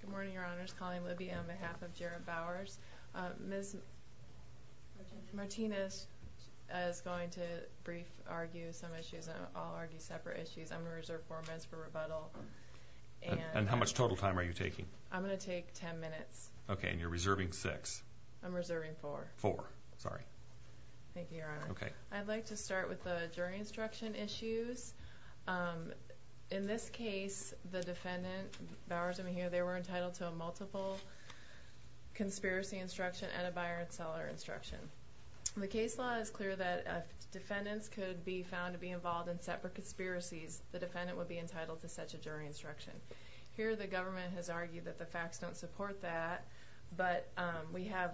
Good morning, your honors. Colleen Libby on behalf of Jared Bowers. Ms. Martinez is going to brief argue some issues. I'll argue separate issues. I'm gonna reserve four minutes for rebuttal. And how much total time are you taking? I'm gonna take ten minutes. Okay, and you're reserving six. I'm reserving four. Four, sorry. Thank you, your honor. Okay. I'd like to start with the jury instruction issues. In this case, the defendant, Bowers and Mejia, they were entitled to a multiple conspiracy instruction and a buyer and seller instruction. The case law is clear that if defendants could be found to be involved in separate conspiracies, the defendant would be entitled to such a jury instruction. Here, the government has argued that the facts don't support that, but we have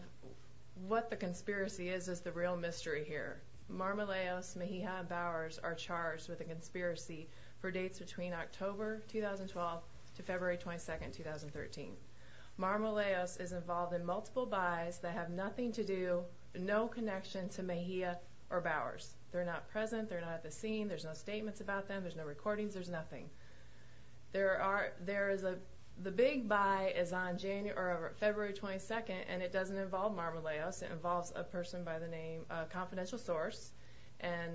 what the conspiracy is is the real mystery here. Marmolejos, Mejia, and Bowers are charged with a conspiracy from January 2012 to February 22nd, 2013. Marmolejos is involved in multiple buys that have nothing to do, no connection to Mejia or Bowers. They're not present. They're not at the scene. There's no statements about them. There's no recordings. There's nothing. There are, there is a, the big buy is on January, or February 22nd, and it doesn't involve Marmolejos. It involves a person by the name, a confidential source, and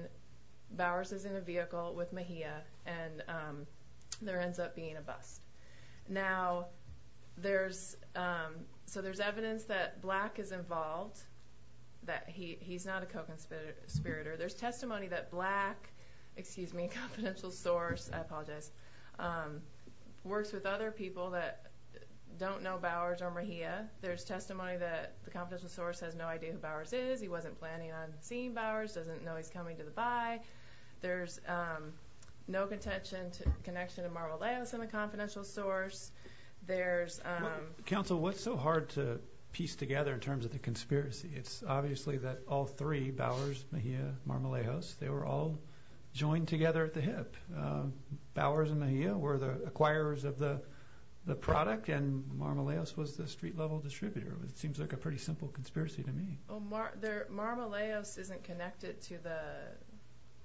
Bowers is in a vehicle with Mejia, and there ends up being a bust. Now, there's, so there's evidence that Black is involved, that he's not a co-conspirator. There's testimony that Black, excuse me, a confidential source, I apologize, works with other people that don't know Bowers or Mejia. There's testimony that the confidential source has no idea who Bowers is. He wasn't planning on seeing Bowers, doesn't know he's coming to the buy. There's no contention, connection to Marmolejos in the confidential source. There's... Council, what's so hard to piece together in terms of the conspiracy? It's obviously that all three, Bowers, Mejia, Marmolejos, they were all joined together at the hip. Bowers and Mejia were the acquirers of the product, and Marmolejos was the street-level distributor. It seems like a pretty simple conspiracy to me. Well, Marmolejos isn't connected to the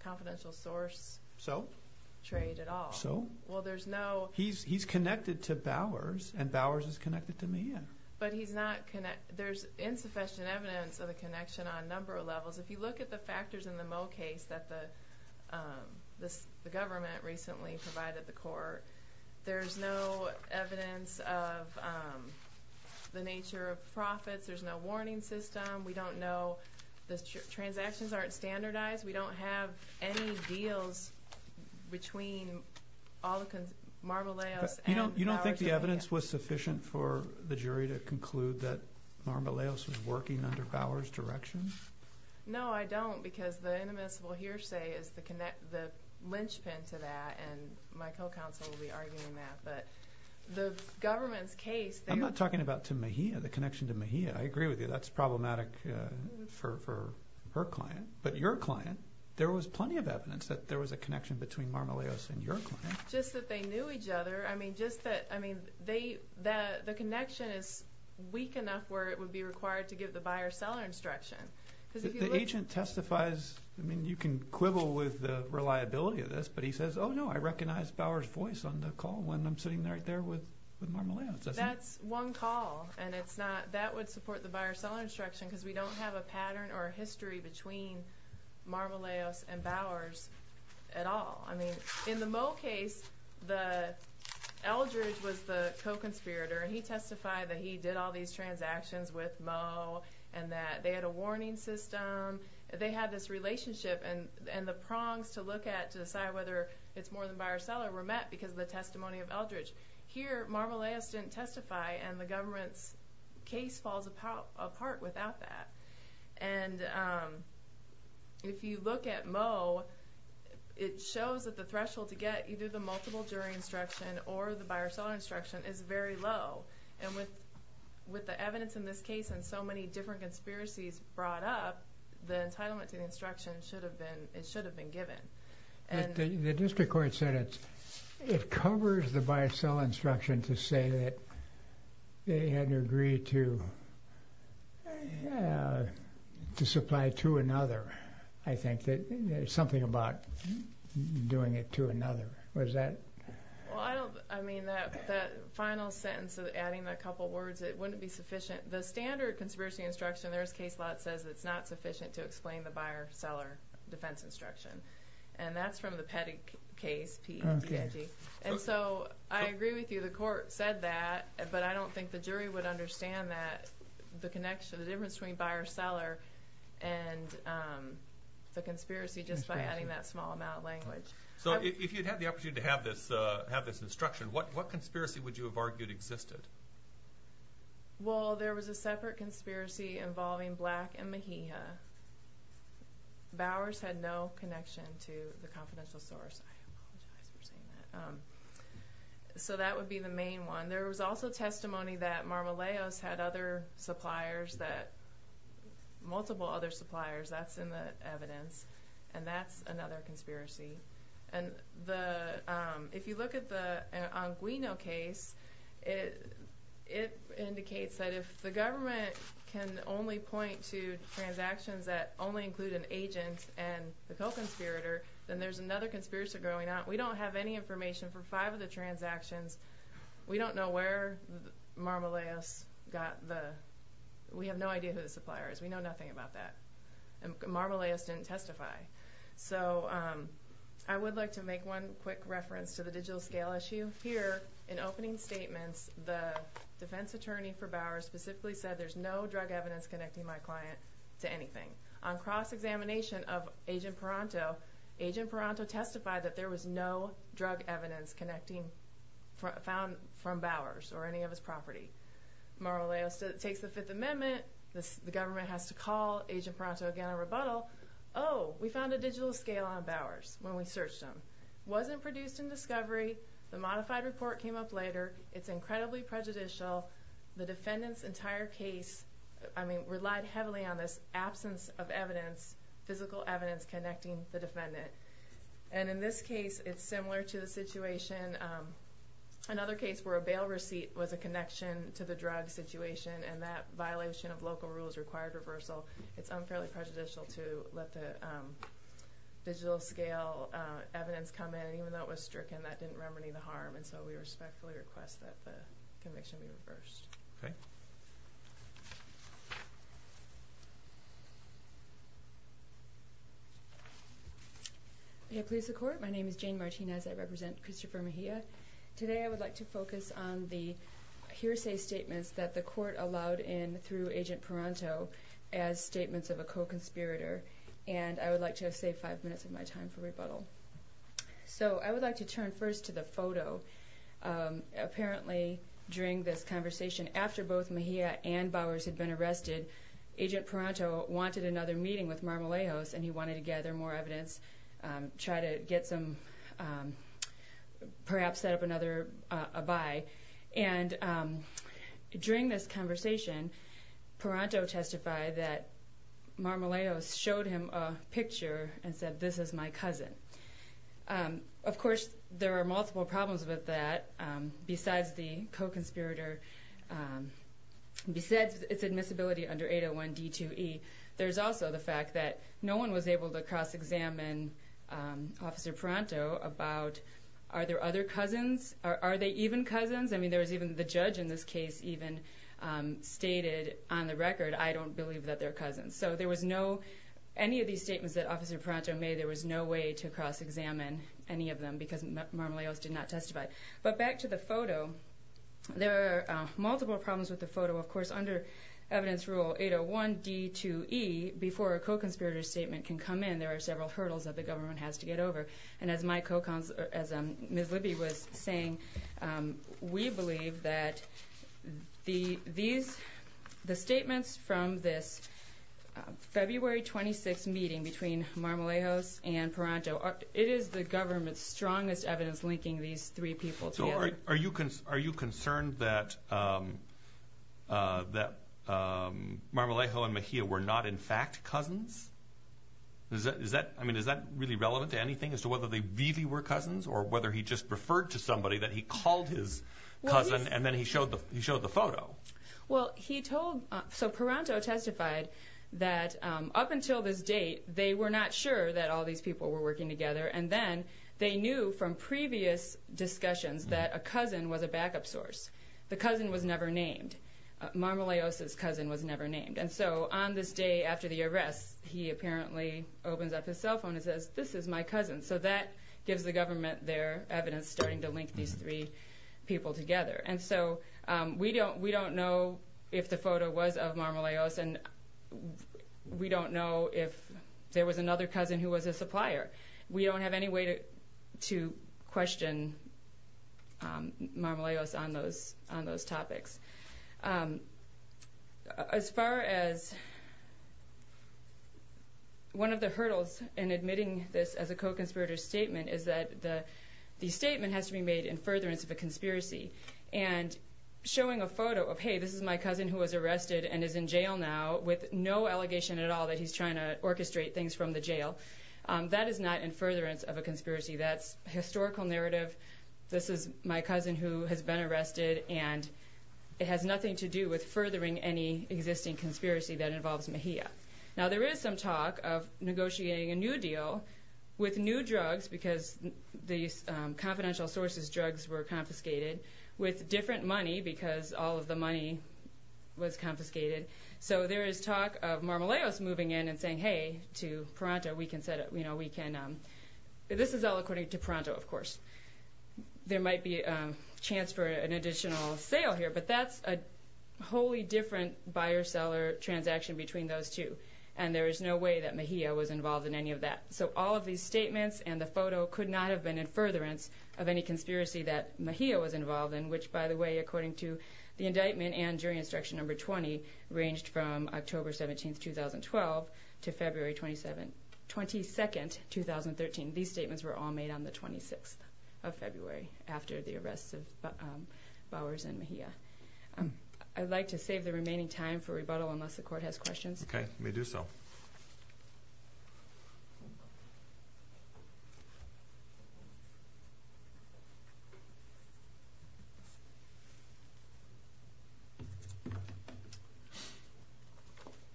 confidential source... So? Trade at all. So? Well, there's no... He's connected to Bowers, and Bowers is connected to Mejia. But he's not, there's insufficient evidence of the connection on a number of levels. If you look at the factors in the Mo case that the government recently provided the court, there's no evidence of the nature of profits, there's no warning system, we don't know... The transactions aren't standardized, we don't have any deals between Marmolejos and Bowers and Mejia. You don't think the evidence was sufficient for the jury to conclude that Marmolejos was working under Bowers' direction? No, I don't, because the inadmissible hearsay is the lynchpin to that, and my co-counsel will be arguing that. But the government's case... I'm not talking about to Mejia, the connection to Mejia. I agree with you, that's problematic for her client. But your client, there was plenty of evidence that there was a connection between Marmolejos and your client. Just that they knew each other, I mean, just that, I mean, the connection is weak enough where it would be required to give the buyer-seller instruction. The agent testifies, I mean, you can quibble with the reliability of this, but he says, oh no, I recognize Bowers' voice on the call when I'm sitting right there with Marmolejos. That's one call, and that would support the buyer-seller instruction because we don't have a pattern or a history between Marmolejos and Bowers at all. I mean, in the Moe case, Eldridge was the co-conspirator, and he testified that he did all these transactions with Moe, and that they had a warning system, they had this relationship, and the prongs to look at to decide whether it's more than buyer-seller were met because of the testimony of Eldridge. Here, Marmolejos didn't testify, and the government's case falls apart without that. And if you look at Moe, it shows that the threshold to get either the multiple jury instruction or the buyer-seller instruction is very low. And with the evidence in this case and so many different conspiracies brought up, the entitlement to the instruction should have been, it should have been given. But the district court said it covers the buyer-seller instruction to say that they had agreed to supply to another, I think. There's something about doing it to another. Was that...? Well, I mean, that final sentence, adding a couple words, it wouldn't be sufficient. The standard conspiracy instruction, there's a case law that says it's not sufficient to explain the buyer-seller defense instruction. And that's from the Pettig case, P-E-T-T-I-G. And so I agree with you, the court said that, but I don't think the jury would understand the connection, the difference between buyer-seller and the conspiracy just by adding that small amount of language. So if you'd had the opportunity to have this instruction, what conspiracy would you have argued existed? Well, there was a separate conspiracy involving Black and Mejia. Bowers had no connection to the confidential source. I apologize for saying that. So that would be the main one. There was also testimony that Marmolejos had other suppliers, multiple other suppliers, that's in the evidence. And that's another conspiracy. And if you look at the Anguino case, it indicates that if the government can only point to transactions that only include an agent and the co-conspirator, then there's another conspiracy going on. We don't have any information for five of the transactions. We don't know where Marmolejos got the... We have no idea who the supplier is. We know nothing about that. Marmolejos didn't testify. So I would like to make one quick reference to the digital scale issue. Here, in opening statements, the defense attorney for Bowers specifically said there's no drug evidence connecting my client to anything. On cross-examination of Agent Paranto, Agent Paranto testified that there was no drug evidence found from Bowers or any of his property. Marmolejos takes the Fifth Amendment. The government has to call Agent Paranto again on rebuttal. Oh, we found a digital scale on Bowers when we searched him. It wasn't produced in discovery. The modified report came up later. It's incredibly prejudicial. The defendant's entire case, I mean, relied heavily on this absence of evidence, physical evidence connecting the defendant. And in this case, it's similar to the situation, another case where a bail receipt was a connection to the drug situation and that violation of local rules required reversal. It's unfairly prejudicial to let the digital scale evidence come in. Even though it was stricken, that didn't remedy the harm. And so we respectfully request that the conviction be reversed. Okay. May it please the Court, my name is Jane Martinez. I represent Christopher Mejia. Today I would like to focus on the hearsay statements that the Court allowed in through Agent Paranto as statements of a co-conspirator. And I would like to save five minutes of my time for rebuttal. So I would like to turn first to the photo. Apparently, during this conversation, after both Mejia and Bowers had been arrested, Agent Paranto wanted another meeting with Marmolejos and he wanted to gather more evidence, try to get some... perhaps set up another abai. And during this conversation, Paranto testified that he showed him a picture and said, this is my cousin. Of course, there are multiple problems with that. Besides the co-conspirator, besides its admissibility under 801 D2E, there's also the fact that no one was able to cross-examine Officer Paranto about are there other cousins? Are they even cousins? I mean, there was even the judge in this case even stated on the record, I don't believe that they're cousins. So any of these statements that Officer Paranto made, there was no way to cross-examine any of them because Marmolejos did not testify. But back to the photo. There are multiple problems with the photo. Of course, under evidence rule 801 D2E, before a co-conspirator statement can come in, there are several hurdles that the government has to get over. And as Ms. Libby was saying, we believe that the statements from this February 26 meeting between Marmolejos and Paranto, it is the government's strongest evidence linking these three people together. So are you concerned that Marmolejo and Mejia were not in fact cousins? Is that really relevant to anything as to whether they really were cousins or whether he just referred to somebody that he called his cousin and then he showed the photo? So Paranto testified that up until this date they were not sure that all these people were working together and then they knew from previous discussions that a cousin was a backup source. The cousin was never named. Marmolejos' cousin was never named. And so on this day after the arrest, he apparently opens up his cell phone and says, this is my cousin. So that gives the government their evidence starting to link these three people together. And so we don't know if the photo was of Marmolejos and we don't know if there was another cousin who was a supplier. We don't have any way to question Marmolejos on those topics. As far as one of the hurdles in admitting this as a co-conspirator statement is that the statement has to be made in furtherance of a conspiracy. And showing a photo of, hey this is my cousin who was arrested and is in jail now with no allegation at all that he's trying to orchestrate things from the jail that is not in furtherance of a conspiracy. That's historical narrative. This is my cousin who has been arrested and it has nothing to do with furthering any existing conspiracy that involves Mejia. Now there is some talk of negotiating a new deal with new drugs because these confidential sources drugs were confiscated with different money because all of the money was confiscated. So there is talk of Marmolejos moving in and saying hey to Pronto we can this is all according to Pronto of course. There might be a chance for an additional sale here but that's a wholly different buyer-seller transaction between those two. And there is no way that Mejia was involved in any of that. So all of these statements and the photo could not have been in furtherance of any conspiracy that Mejia was involved in which by the way according to the indictment and jury instruction number 20 ranged from October 17, 2012 to February 22, 2013. These statements were all made on the 26th of February after the arrests of Bowers and Mejia. I'd like to save the remaining time for rebuttal unless the court has questions. Okay, may do so.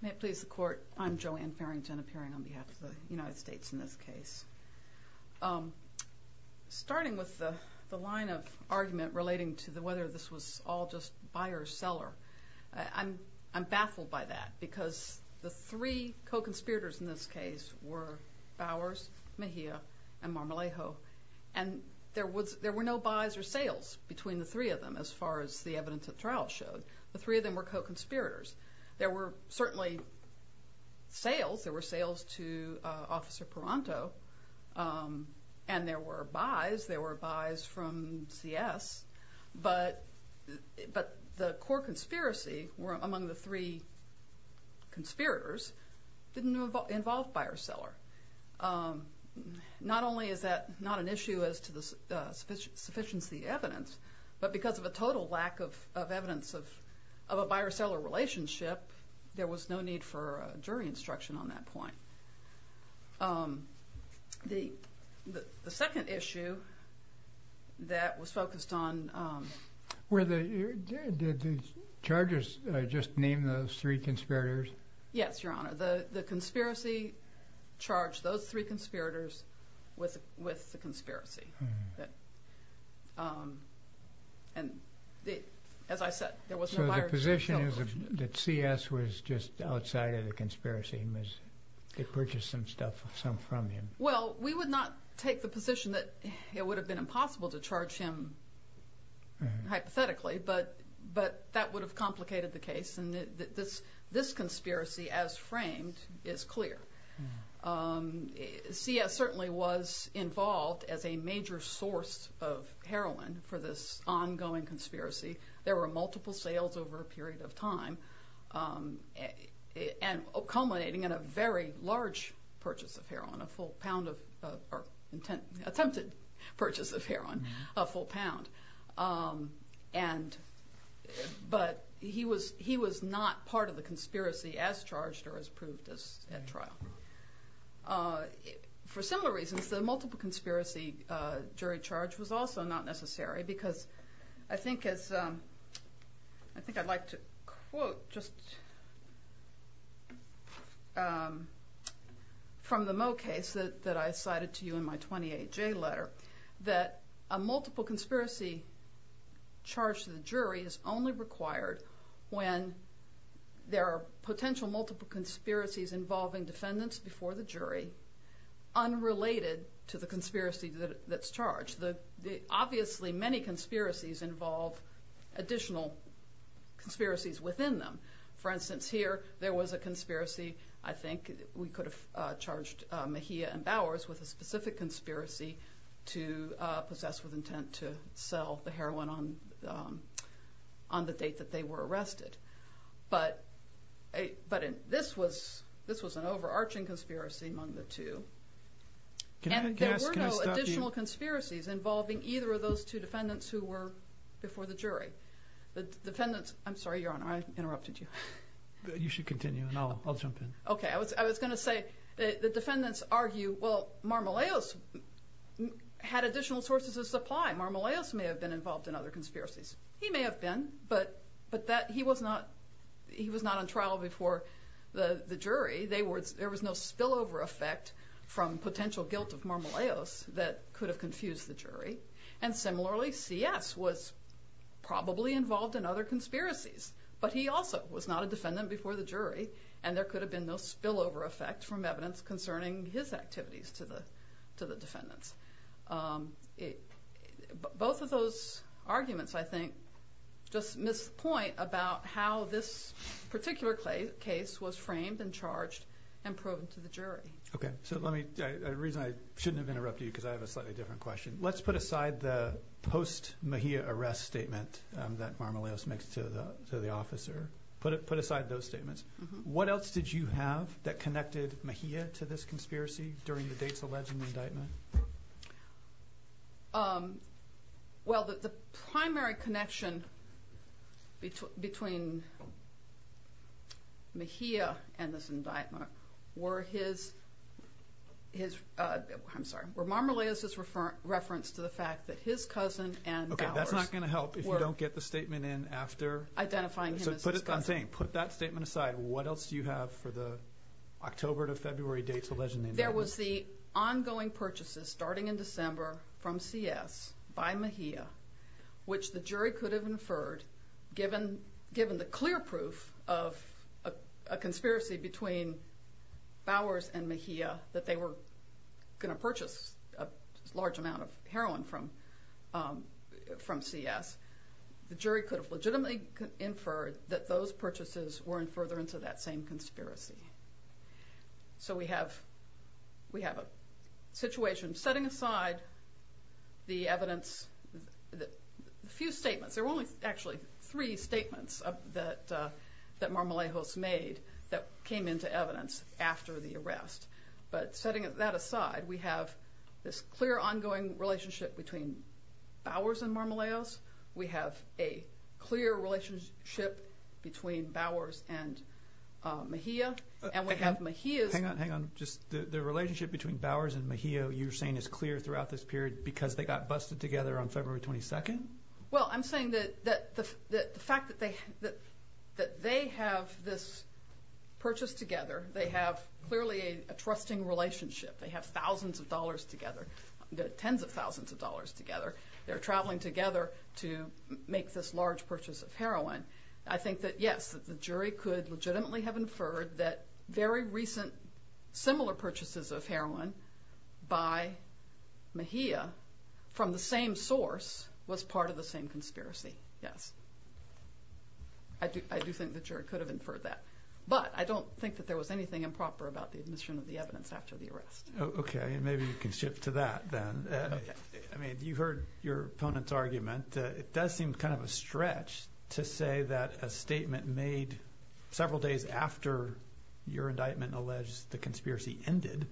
May it please the court I'm Joanne Farrington appearing on behalf of the United States in this case. Starting with the line of argument relating to whether this was all just buyer-seller I'm baffled by that because the three co-conspirators in this case were Bowers Mejia and Marmolejo and there were no buys or sales between the three of them as far as the evidence of trial showed. The three of them were co-conspirators. There were sales to Officer Paranto and there were buys from CS but the core conspiracy among the three conspirators didn't involve buyer-seller. Not only is that not an issue as to the sufficiency of evidence but because of a total lack of evidence of a buyer-seller relationship there was no need for jury instruction on that point. The second issue that was focused on Were the charges just named those three conspirators? Yes, Your Honor. The conspiracy charged those three conspirators with the conspiracy and as I said So the position is that CS was just outside of the conspiracy and purchased some stuff from him? Well, we would not take the position that it would have been impossible to charge him hypothetically but that would have complicated the case and this conspiracy as framed is clear. CS certainly was involved as a major source of heroin for this ongoing conspiracy. There were multiple sales over a period of time large purchase of heroin attempted purchase of heroin a full pound but he was not part of the conspiracy as charged or as proved at trial. For similar reasons the multiple conspiracy jury charge was also not necessary because I think I'd like to quote just from the Moe case that I cited to you in my 28J letter that a multiple conspiracy charge to the jury is only required when there are potential multiple conspiracies involving defendants before the jury unrelated to the conspiracy that's charged. Obviously many conspiracies involve additional conspiracies within them. For instance, here there was a conspiracy I think we could have charged Mejia and Bowers with a specific conspiracy to possess with intent to sell the heroin on the date that they were arrested but this was an overarching conspiracy among the two and there were no additional conspiracies involving either of those two defendants who were before the jury. I'm sorry, Your Honor, I interrupted you. You should continue and I'll jump in. I was going to say the defendants argue Marmoleos had additional sources of supply Marmoleos may have been involved in other conspiracies. He may have been, but he was not on trial before the jury there was no spillover effect from potential guilt of Marmoleos that could have confused the jury and similarly C.S. was probably involved in other conspiracies but he also was not a defendant before the jury and there could have been no spillover effect from evidence concerning his activities to the defendants. Both of those arguments I think just miss the point about how this particular case was framed and charged and proven to the jury. I shouldn't have interrupted you because I have a slightly different question. Let's put aside the post-Mejia arrest statement that Marmoleos makes to the officer What else did you have that connected Mejia to this conspiracy during the dates alleged in the indictment? Well, the primary connection between Mejia and this indictment were Marmoleos' reference to the fact that his cousin and ours That's not going to help if you don't get the statement in after I'm saying put that statement aside. What else do you have for the October to February dates alleged in the indictment? There was the ongoing purchases starting in December from C.S. by Mejia which the jury could have inferred given the clear proof of a conspiracy between Bowers and Mejia that they were going to purchase a large amount of heroin from C.S. the jury could have legitimately inferred that those purchases weren't further into that same conspiracy. So we have a situation setting aside the evidence There were only three statements that Marmoleos made that came into evidence after the arrest but setting that aside we have this clear ongoing relationship between Bowers and Marmoleos. We have a clear relationship between Bowers and Mejia The relationship between Bowers and Mejia you're saying is clear throughout this period because they got busted together on February 22nd? Well I'm saying that the fact that they have this purchase together they have clearly a trusting relationship. They have thousands of dollars together. Tens of thousands of dollars together They're traveling together to make this large purchase of heroin. I think that yes the jury could legitimately have inferred that very recent similar purchases of heroin by Mejia from the same source was part of the same conspiracy. Yes I do think the jury could have inferred that but I don't think that there was anything improper about the admission of the evidence after the arrest. Okay and maybe you can shift to that then. Okay. I mean you heard your opponent's argument. It does seem kind of a stretch to say that a statement made several days after your indictment alleged the conspiracy ended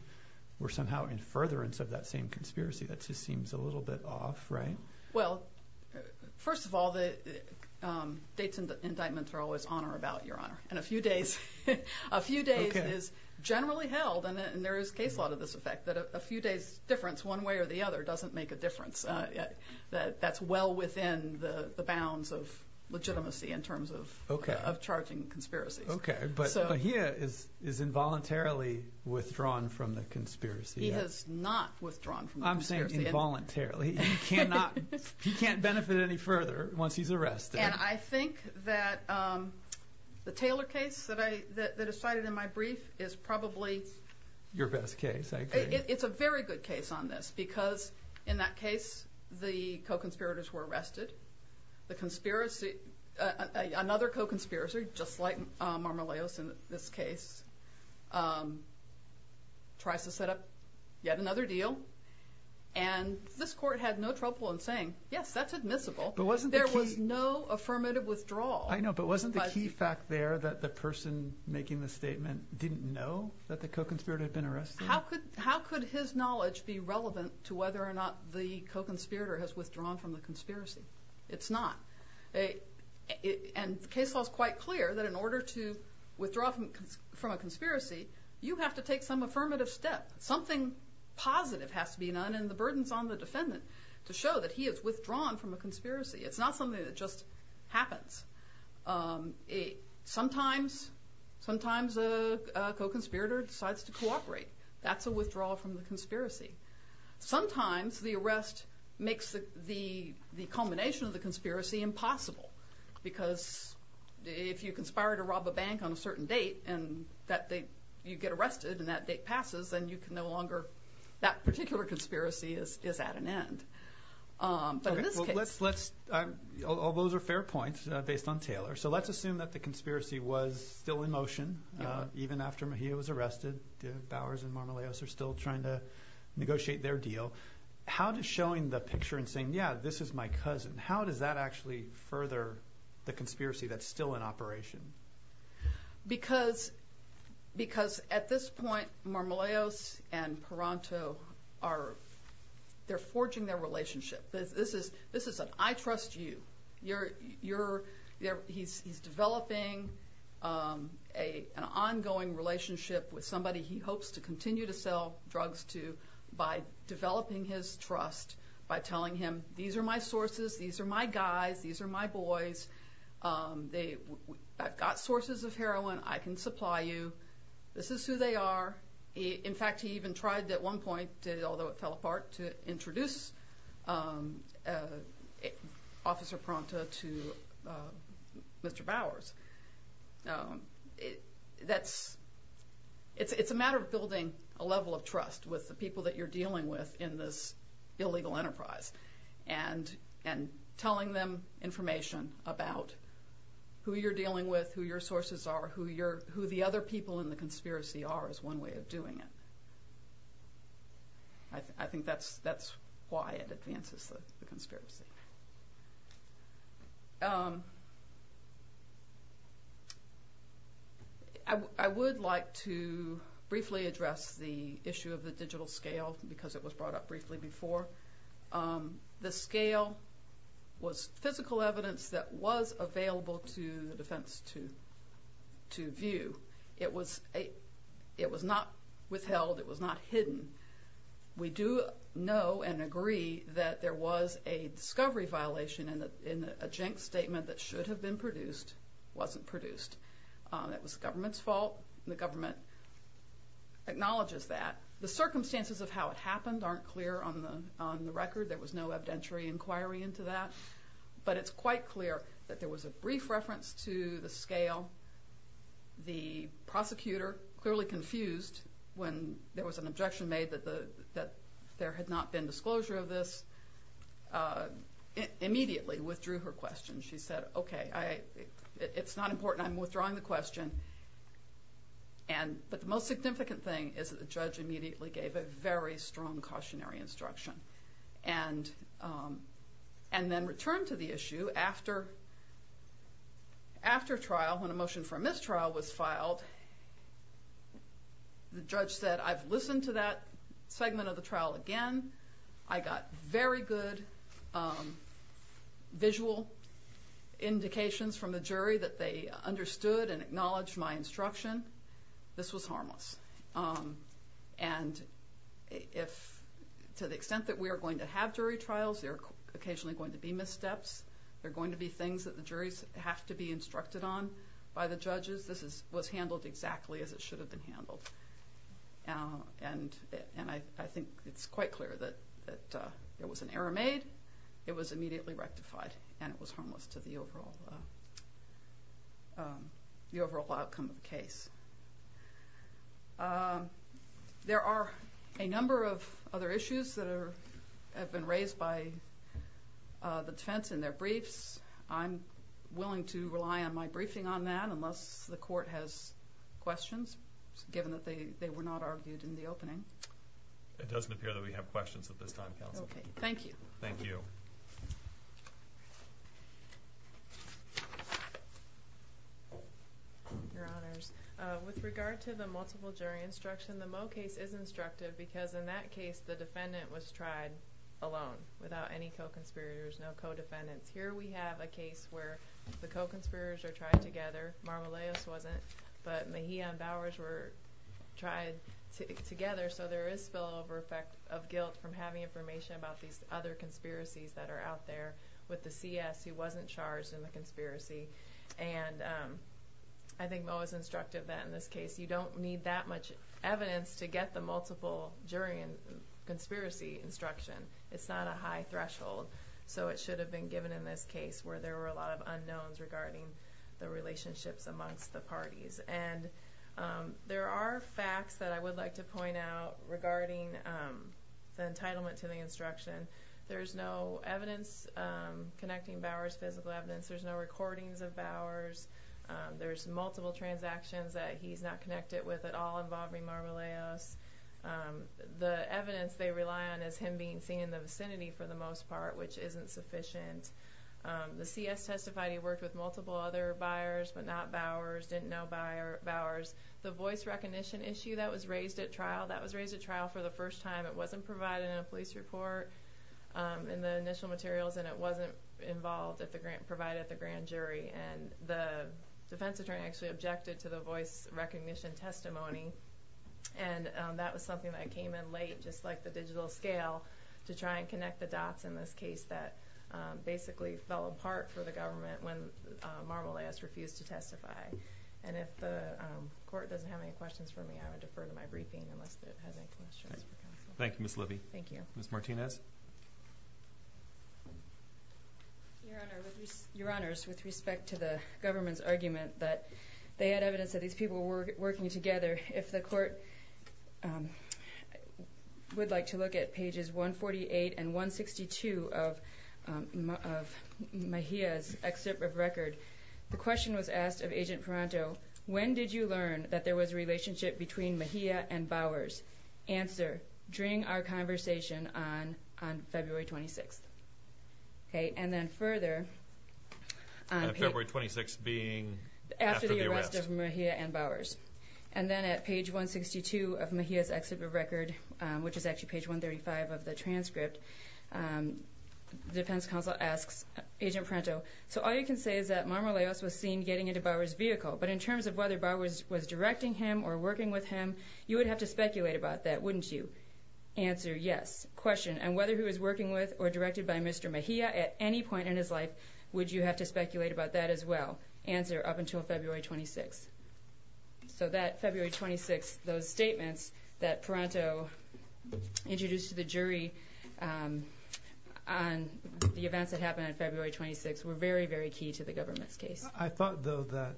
were somehow in furtherance of that same conspiracy. That just seems a little bit off right? Well first of all the dates and indictments are always on or about your honor and a few days is generally held and there is case law to this effect that a few days difference one way or the other doesn't make a difference that's well within the bounds of of charging conspiracies. Okay but Mejia is involuntarily withdrawn from the conspiracy. He has not withdrawn from the conspiracy. I'm saying involuntarily. He can't benefit any further once he's arrested. And I think that the Taylor case that is cited in my brief is probably. Your best case I agree. It's a very good case on this because in that case the co-conspirators were arrested the conspiracy another co-conspirator just like Marmoleos in this case tries to set up yet another deal and this court had no trouble in saying yes that's admissible there was no affirmative withdrawal. I know but wasn't the key fact there that the person making the statement didn't know that the co-conspirator had been arrested? How could his knowledge be relevant to whether or not the co-conspirator has withdrawn from the conspiracy? It's not. And the case law is quite clear that in order to withdraw from a conspiracy you have to take some affirmative step something positive has to be done and the burden is on the defendant to show that he has withdrawn from a conspiracy it's not something that just happens sometimes a co-conspirator decides to cooperate that's a withdrawal from the conspiracy sometimes the arrest makes the culmination of the conspiracy impossible because if you conspire to rob a bank on a certain date and you get arrested and that date passes then that particular conspiracy is at an end All those are fair points based on Taylor so let's assume that the conspiracy was still in motion even after Mejia was arrested Bowers and Marmolejos are still trying to negotiate their deal how does showing the picture and saying yeah this is my cousin how does that actually further the conspiracy that's still in operation? Because at this point Marmolejos and Paranto are they're forging their relationship this is an I trust you he's developing an ongoing relationship with somebody he hopes to continue to sell drugs to by developing his trust by telling him these are my sources these are my guys these are my boys I've got sources of heroin I can supply you this is who they are in fact he even tried at one point although it fell apart to introduce Officer Paranto to Mr. Bowers it's a matter of building a level of trust with the people that you're dealing with in this illegal enterprise and telling them information about who you're dealing with who your sources are who the other people in the conspiracy are that was one way of doing it I think that's why it advances the conspiracy I would like to briefly address the issue of the digital scale because it was brought up briefly before the scale was physical evidence that was available to the defense to view it was not withheld it was not hidden we do know and agree that there was a discovery violation in a jank statement that should have been produced wasn't produced it was the government's fault the government acknowledges that the circumstances of how it happened aren't clear on the record there was no evidentiary inquiry into that but it's quite clear that there was a brief reference to the scale the prosecutor clearly confused when there was an objection made that there had not been disclosure of this immediately withdrew her question it's not important I'm withdrawing the question but the most significant thing is that the judge immediately gave a very strong cautionary instruction and then returned to the issue after trial when a motion for a mistrial was filed the judge said I've listened to that segment of the trial again I got very good visual indications from the jury that they understood and acknowledged my instruction this was harmless to the extent that we are going to have jury trials there are occasionally going to be missteps there are going to be things that the juries have to be instructed on by the judges this was handled exactly as it should have been handled and I think it's quite clear that there was an error made and it was harmless to the overall outcome of the case there are a number of other issues that have been raised by the defense in their briefs I'm willing to rely on my briefing on that unless the court has questions given that they were not argued in the opening it doesn't appear that we have questions at this time counsel thank you your honors with regard to the multiple jury instruction the Moe case is instructive because in that case the defendant was tried alone without any co-conspirators no co-defendants here we have a case where the co-conspirators are tried together Marmoleos wasn't but Mejia and Bowers were tried together so there is spillover effect of guilt from having information about these other conspiracies with the CS who wasn't charged in the conspiracy and I think Moe is instructive that in this case you don't need that much evidence to get the multiple jury and conspiracy instruction it's not a high threshold so it should have been given in this case where there were a lot of unknowns regarding the relationships amongst the parties there are facts that I would like to point out regarding the entitlement to the instruction there is no evidence connecting Bowers physical evidence there is no recordings of Bowers there is multiple transactions that he is not connected with all involving Marmoleos the evidence they rely on is him being seen in the vicinity for the most part which isn't sufficient the CS testified he worked with multiple other buyers but not Bowers, didn't know Bowers the voice recognition issue that was raised at trial for the first time it wasn't provided in a police report in the initial materials and it wasn't provided at the grand jury the defense attorney objected to the voice recognition testimony and that was something that came in late just like the digital scale to try and connect the dots in this case that basically fell apart for the government when Marmoleos refused to testify and if the court doesn't have any questions for me I would defer to my briefing unless it has any questions Thank you Ms. Libby. Ms. Martinez Your Honor with respect to the government's argument they had evidence that these people were working together if the court would like to look at pages 148 and 162 of Mejia's excerpt of record the question was asked of Agent Parenteau, when did you learn that there was a relationship between Mejia and Bowers? Answer during our conversation on February 26th and then further February 26th being after the arrest of Mejia and Bowers and then at page 162 of Mejia's excerpt of record which is actually page 135 of the transcript the defense counsel asks Agent Parenteau, so all you can say is that Marmoleos was seen getting into Bowers' vehicle but in terms of whether Bowers was directing him or working with him, you would have to speculate about that, wouldn't you? Answer, yes. Question, and whether he was working with or directed by Mr. Mejia at any point in his life would you have to speculate about that as well? Answer, up until February 26th. So that February 26th, those statements that Parenteau introduced to the jury on the events that happened on February 26th were very, very key to the government's case. I thought though that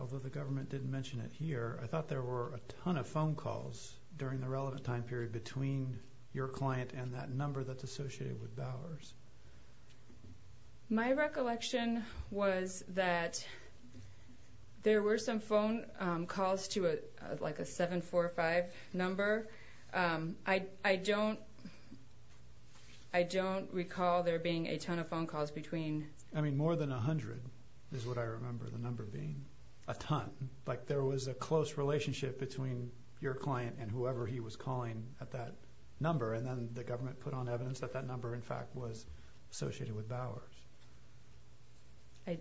although the government didn't mention it here, I thought there were a ton of phone calls during the relevant time period between your client and that number that's associated with My recollection was that there were some phone calls to a like a 745 number I don't recall there being a ton of phone calls between I mean more than a hundred is what I remember the number being a ton, like there was a close relationship between your client and whoever he was calling at that number and then the government put on evidence that that number in fact was associated with Bowers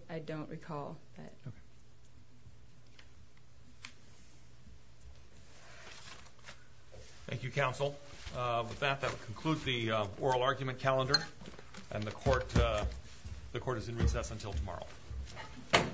I don't recall Thank you counsel. With that, that will conclude the oral argument calendar and the court the court is in recess until tomorrow Thank you This court for this session is adjourned